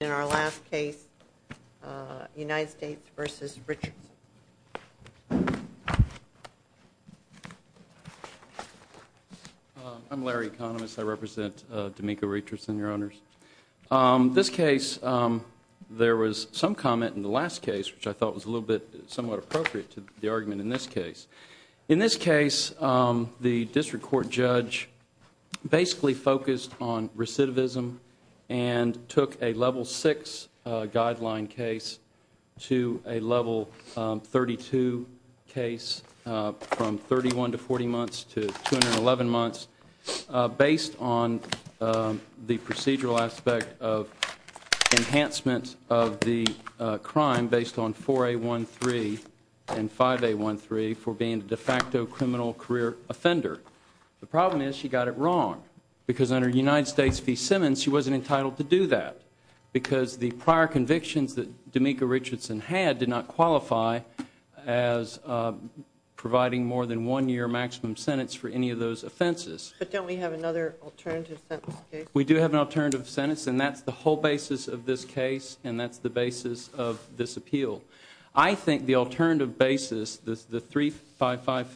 In our last case, United States v. Richardson. I'm Larry Economist. I represent Demeco Richardson, Your Honors. This case, there was some comment in the last case, which I thought was a little bit somewhat appropriate to the argument in this case. In this case, the district court judge basically focused on recidivism and took a Level 6 guideline case to a Level 32 case from 31 to 40 months to 211 months, based on the procedural aspect of enhancement of the crime based on 4A13 and 5A13 for being a de facto criminal career offender. The problem is she got it wrong, because under United States v. Simmons, she wasn't entitled to do that, because the prior convictions that Demeco Richardson had did not qualify as providing more than one year maximum sentence for any of those offenses. But don't we have another alternative sentence case? We do have an alternative sentence, and that's the whole basis of this case, and that's the basis of this appeal. I think the alternative basis, the 3A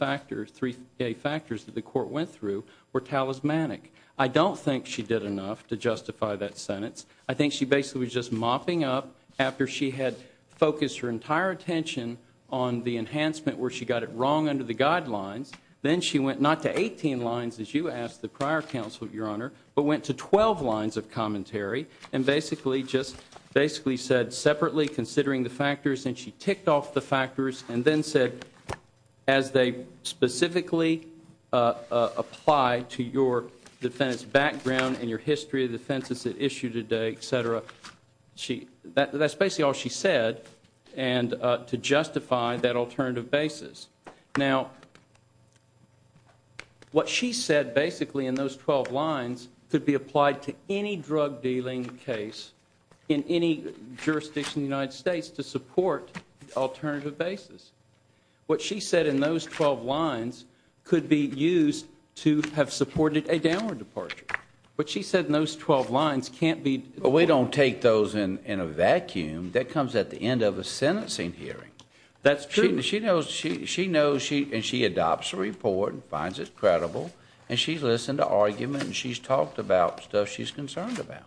factors that the court went through, were talismanic. I don't think she did enough to justify that sentence. I think she basically was just mopping up after she had focused her entire attention on the enhancement where she got it wrong under the guidelines. Then she went not to 18 lines, as you asked the prior counsel, Your Honor, but went to 12 lines of commentary, and basically said, separately considering the factors, and she ticked off the factors, and then said, as they specifically apply to your defense background and your history of defenses at issue today, etc., that's basically all she said to justify that alternative basis. Now, what she said basically in those 12 lines could be applied to any drug dealing case in any jurisdiction in the United States to support alternative basis. What she said in those 12 lines could be used to have supported a downward departure. What she said in those 12 lines can't be- But we don't take those in a vacuum. That comes at the end of a sentencing hearing. That's true. She knows, and she adopts a report and finds it credible, and she's listened to argument, and she's talked about stuff she's concerned about.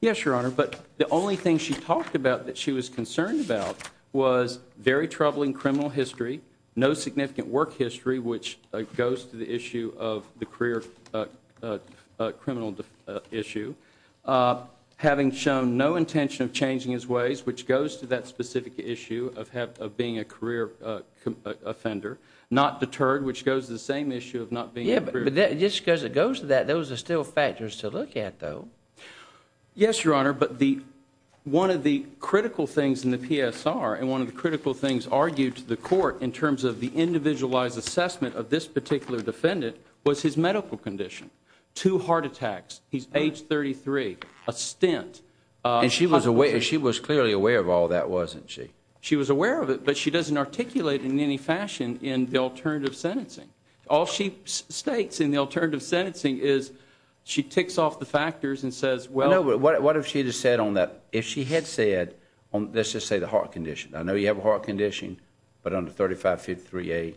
Yes, Your Honor, but the only thing she talked about that she was concerned about was very troubling criminal history, no significant work history, which goes to the issue of the career criminal issue, having shown no intention of changing his ways, which goes to that specific issue of being a career offender, not deterred, which goes to the same issue of not being a career- But just because it goes to that, those are still factors to look at, though. Yes, Your Honor, but one of the critical things in the PSR and one of the critical things argued to the court in terms of the individualized assessment of this particular defendant was his medical condition. Two heart attacks, he's age 33, a stint- And she was clearly aware of all that, wasn't she? She was aware of it, but she doesn't articulate in any fashion in the alternative sentencing. All she states in the alternative sentencing is she ticks off the factors and says, well- No, but what if she had said on that, if she had said, let's just say the heart condition, I know you have a heart condition, but under 3553A,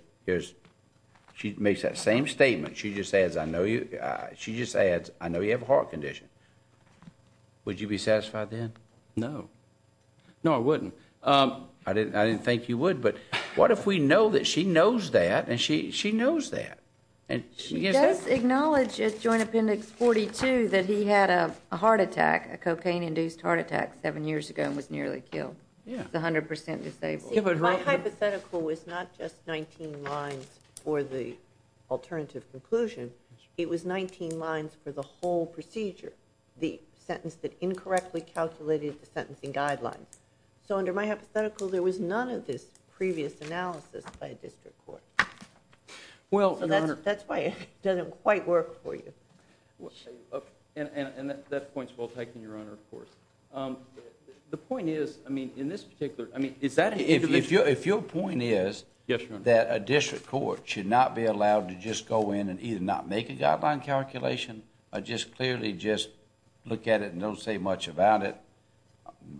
she makes that same statement. She just adds, I know you have a heart condition. Would you be satisfied then? No. No, I wouldn't. I didn't think you would, but what if we know that she knows that, and she knows that, and she gives that- She does acknowledge at Joint Appendix 42 that he had a heart attack, a cocaine-induced heart attack seven years ago and was nearly killed. Yeah. He's 100% disabled. My hypothetical was not just 19 lines for the alternative conclusion. It was 19 lines for the whole procedure, the sentence that incorrectly calculated the sentencing guidelines. So under my hypothetical, there was none of this previous analysis by a district court. Well, Your Honor- That's why it doesn't quite work for you. And that point's well taken, Your Honor, of course. The point is, I mean, in this particular- I mean, is that- If your point is- Yes, Your Honor. That a district court should not be allowed to just go in and either not make a guideline calculation or just clearly just look at it and don't say much about it,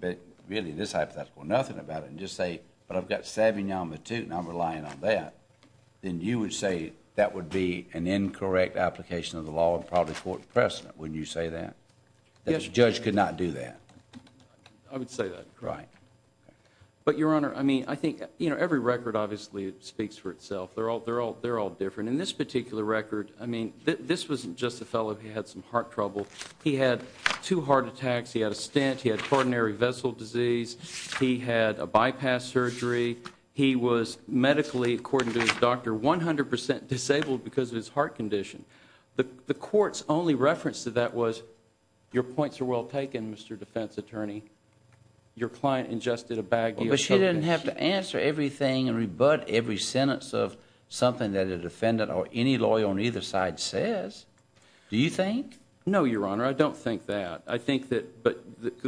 but really this hypothetical, nothing about it, and just say, but I've got Savignon Matute, and I'm relying on that, then you would say that would be an incorrect application of the law and probably court precedent, wouldn't you say that? Yes, Your Honor. That the judge could not do that. I would say that. Right. But, Your Honor, I mean, I think, you know, every record obviously speaks for itself. They're all different. In this particular record, I mean, this wasn't just a fellow who had some heart trouble. He had two heart attacks. He had a stent. He had coronary vessel disease. He had a bypass surgery. He was medically, according to his doctor, 100% disabled because of his heart condition. The court's only reference to that was, your points are well taken, Mr. Defense Attorney. Your client ingested a bag of- But she didn't have to answer everything and rebut every sentence of something that a defendant or any lawyer on either side says. Do you think? No, Your Honor. I don't think that. I think that- But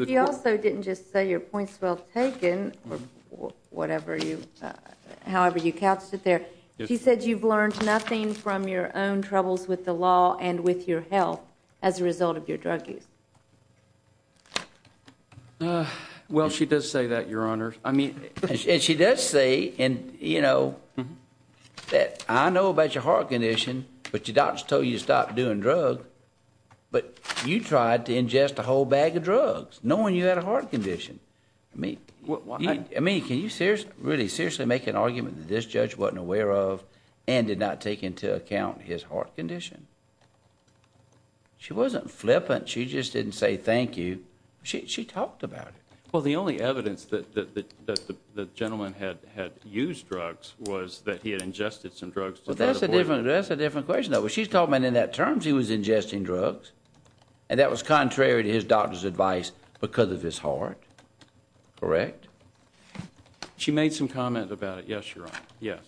you also didn't just say, your point's well taken, or whatever you, however you couched it there. She said you've learned nothing from your own troubles with the law and with your health as a result of your drug use. Well, she does say that, Your Honor. And she does say, you know, that I know about your heart condition, but your doctor told you to stop doing drugs. But you tried to ingest a whole bag of drugs, knowing you had a heart condition. I mean, can you really seriously make an argument that this judge wasn't aware of and did not take into account his heart condition? She wasn't flippant. She just didn't say thank you. She talked about it. Well, the only evidence that the gentleman had used drugs was that he had ingested some drugs to try to avoid- Well, that's a different question, though. She's talking about in that terms he was ingesting drugs, and that was contrary to his doctor's advice because of his heart. Correct? She made some comment about it. Yes, Your Honor. Yes.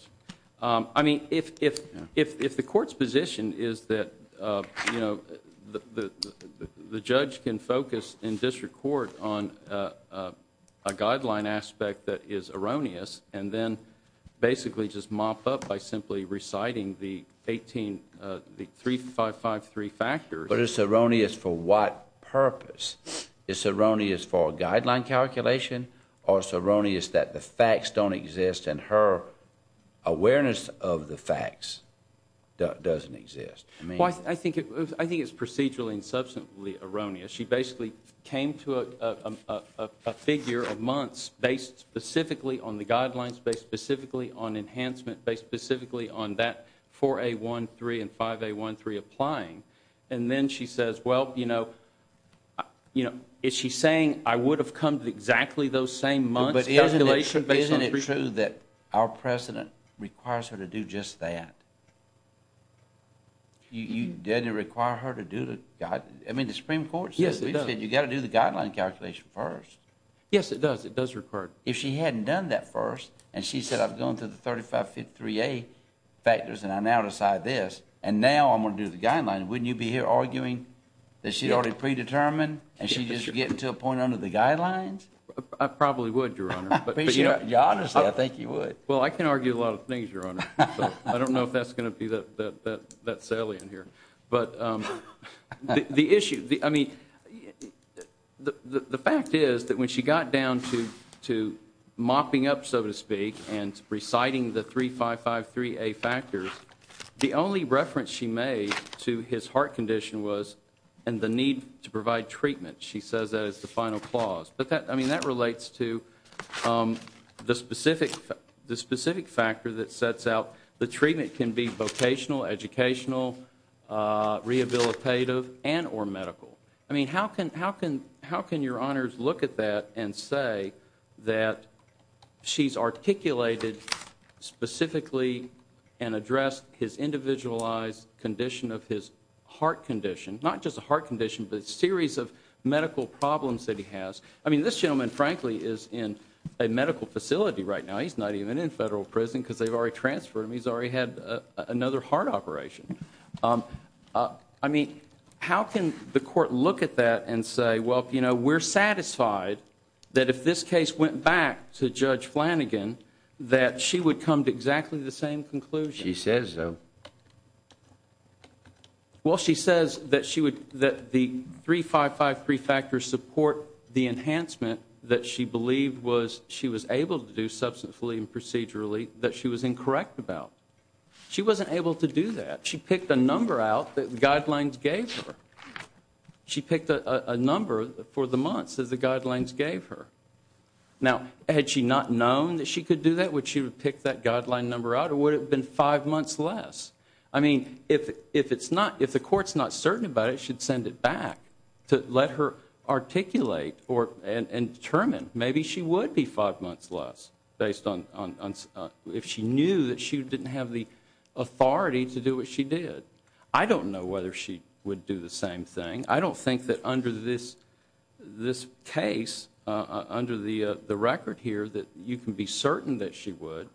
I mean, if the court's position is that, you know, the judge can focus in district court on a guideline aspect that is erroneous, and then basically just mop up by simply reciting the 3553 factors- But it's erroneous for what purpose? It's erroneous for a guideline calculation, or it's erroneous that the facts don't exist and her awareness of the facts doesn't exist? I mean- I think it's procedurally and substantively erroneous. She basically came to a figure of months based specifically on the guidelines, based specifically on enhancement, based specifically on that 4A13 and 5A13 applying. And then she says, well, you know, is she saying I would have come to exactly those same months- But isn't it true that our president requires her to do just that? You didn't require her to do the- I mean, the Supreme Court said- Yes, it does. We said you got to do the guideline calculation first. Yes, it does. It does require- If she hadn't done that first, and she said, I've gone through the 3553A factors, and I now decide this, and now I'm going to do the guidelines, wouldn't you be here arguing that she's already predetermined, and she's just getting to a point under the guidelines? I probably would, Your Honor, but- Honestly, I think you would. Well, I can argue a lot of things, Your Honor, so I don't know if that's going to be that salient here. But the issue- I mean, the fact is that when she got down to mopping up, so to speak, and reciting the 3553A factors, the only reference she made to his heart condition was in the need to provide treatment. She says that as the final clause. But that- I mean, that relates to the specific factor that sets out the treatment can be vocational, educational, rehabilitative, and or medical. I mean, how can Your Honors look at that and say that she's articulated specifically and addressed his individualized condition of his heart condition? Not just a heart condition, but a series of medical problems that he has. I mean, this gentleman, frankly, is in a medical facility right now. He's not even in federal prison because they've already transferred him. He's already had another heart operation. I mean, how can the court look at that and say, well, you know, we're satisfied that if this case went back to Judge Flanagan, that she would come to exactly the same conclusion? She says so. Well, she says that she would- that the 3553 factors support the enhancement that she believed was- she was able to do substantively and procedurally that she was incorrect about. She wasn't able to do that. She picked a number out that the guidelines gave her. She picked a number for the months that the guidelines gave her. Now, had she not known that she could do that, would she have picked that guideline number out or would it have been five months less? I mean, if it's not- if the court's not certain about it, she'd send it back to let her articulate or- and determine. Maybe she would be five months less based on- if she knew that she didn't have the authority to do what she did. I don't know whether she would do the same thing. I don't think that under this case, under the record here, that you can be certain that she would.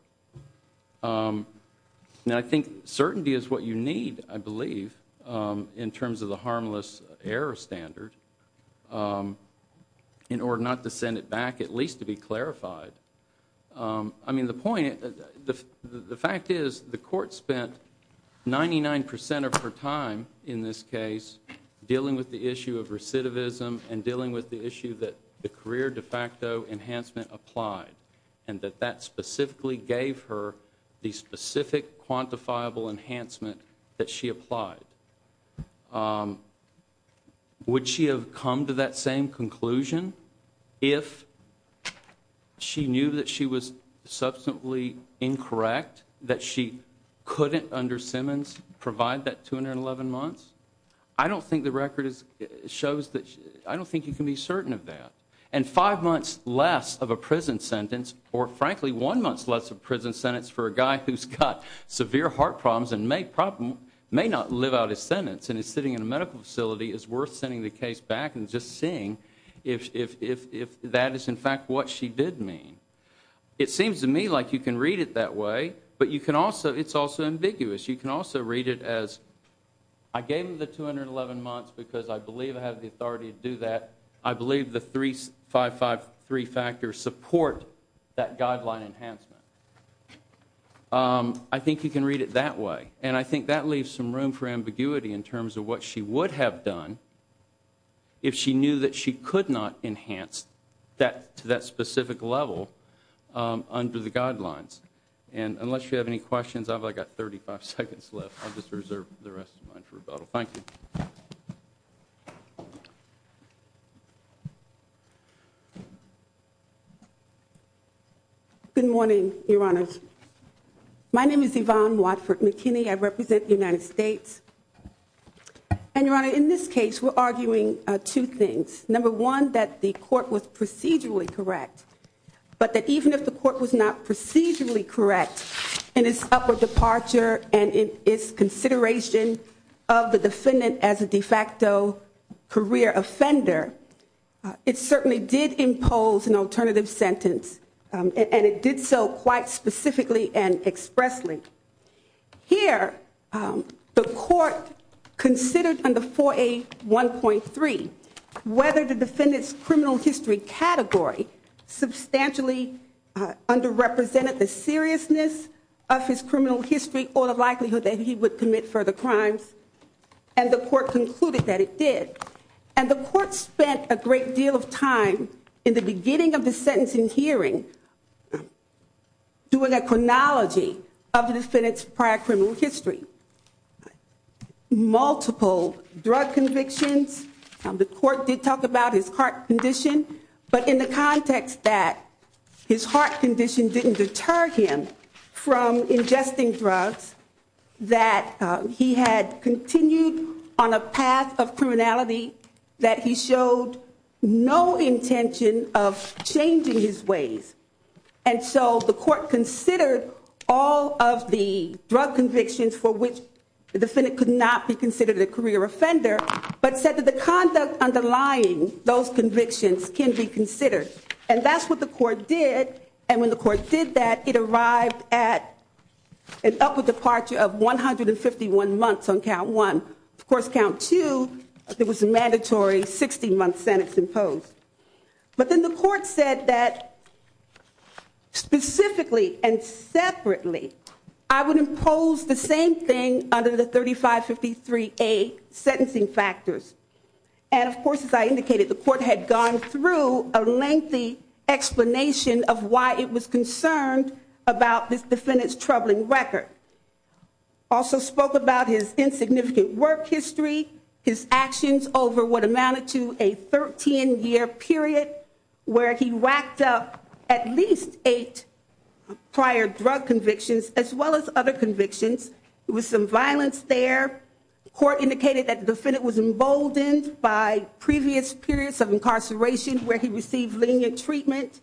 Now, I think certainty is what you need, I believe, in terms of the harmless error standard in order not to send it back, at least to be clarified. I mean, the point- the fact is the court spent 99 percent of her time in this case dealing with the issue of recidivism and dealing with the issue that the career de facto enhancement applied. And that that specifically gave her the specific quantifiable enhancement that she applied. Would she have come to that same conclusion if she knew that she was substantially incorrect, that she couldn't, under Simmons, provide that 211 months? I don't think the record shows that- I don't think you can be certain of that. And five months less of a prison sentence, or frankly one month less of a prison sentence for a guy who's got severe heart problems and may not live out his sentence and is sitting in a medical facility, is worth sending the case back and just seeing if that is in fact what she did mean. It seems to me like you can read it that way, but you can also- it's also ambiguous. You can also read it as, I gave him the 211 months because I believe I have the authority to do that. I believe the 3553 factors support that guideline enhancement. I think you can read it that way. And I think that leaves some room for ambiguity in terms of what she would have done if she knew that she could not enhance that to that specific level under the guidelines. And unless you have any questions, I've only got 35 seconds left. I'll just reserve the rest of mine for rebuttal. Thank you. Good morning, Your Honors. My name is Yvonne Watford McKinney. I represent the United States. And Your Honor, in this case, we're arguing two things. Number one, that the court was procedurally correct. But that even if the court was not procedurally correct in its upper departure and in its consideration of the defendant as a de facto career offender, it certainly did impose an alternative sentence. And it did so quite specifically and expressly. Here, the court considered under 4A1.3 whether the defendant's criminal history category substantially underrepresented the seriousness of his criminal history or the likelihood that he would commit further crimes. And the court concluded that it did. And the court spent a great deal of time in the beginning of the sentencing hearing doing a chronology of the defendant's prior criminal history. Multiple drug convictions. The court did talk about his heart condition. But in the context that his heart condition didn't deter him from ingesting drugs. That he had continued on a path of criminality that he showed no intention of changing his ways. And so the court considered all of the drug convictions for which the defendant could not be considered a career offender. But said that the conduct underlying those convictions can be considered. And that's what the court did. And when the court did that, it arrived at an upward departure of 151 months on count one. Of course, count two, there was a mandatory 60-month sentence imposed. But then the court said that specifically and separately, I would impose the same thing under the 3553A sentencing factors. And of course, as I indicated, the court had gone through a lengthy explanation of why it was concerned about this defendant's troubling record. Also spoke about his insignificant work history. His actions over what amounted to a 13-year period. Where he racked up at least eight prior drug convictions as well as other convictions. There was some violence there. Court indicated that the defendant was emboldened by previous periods of incarceration where he received lenient treatment.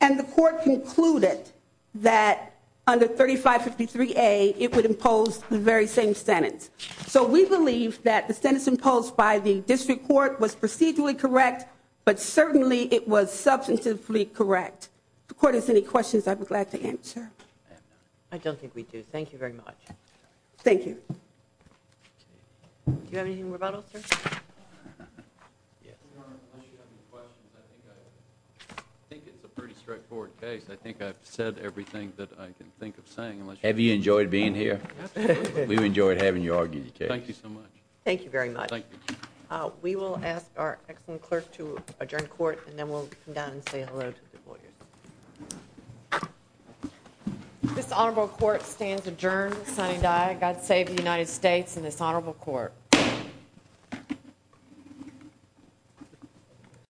And the court concluded that under 3553A, it would impose the very same sentence. So we believe that the sentence imposed by the district court was procedurally correct. But certainly, it was substantively correct. If the court has any questions, I'd be glad to answer. I don't think we do. Thank you very much. Do you have any more rebuttals, sir? Your Honor, unless you have any questions, I think it's a pretty straightforward case. I think I've said everything that I can think of saying. Have you enjoyed being here? Absolutely. We've enjoyed having you argue the case. Thank you so much. Thank you very much. Thank you. We will ask our excellent clerk to adjourn court. And then we'll come down and say hello to the lawyers. This honorable court stands adjourned. Sonny Dye, God save the United States and this honorable court. Thank you.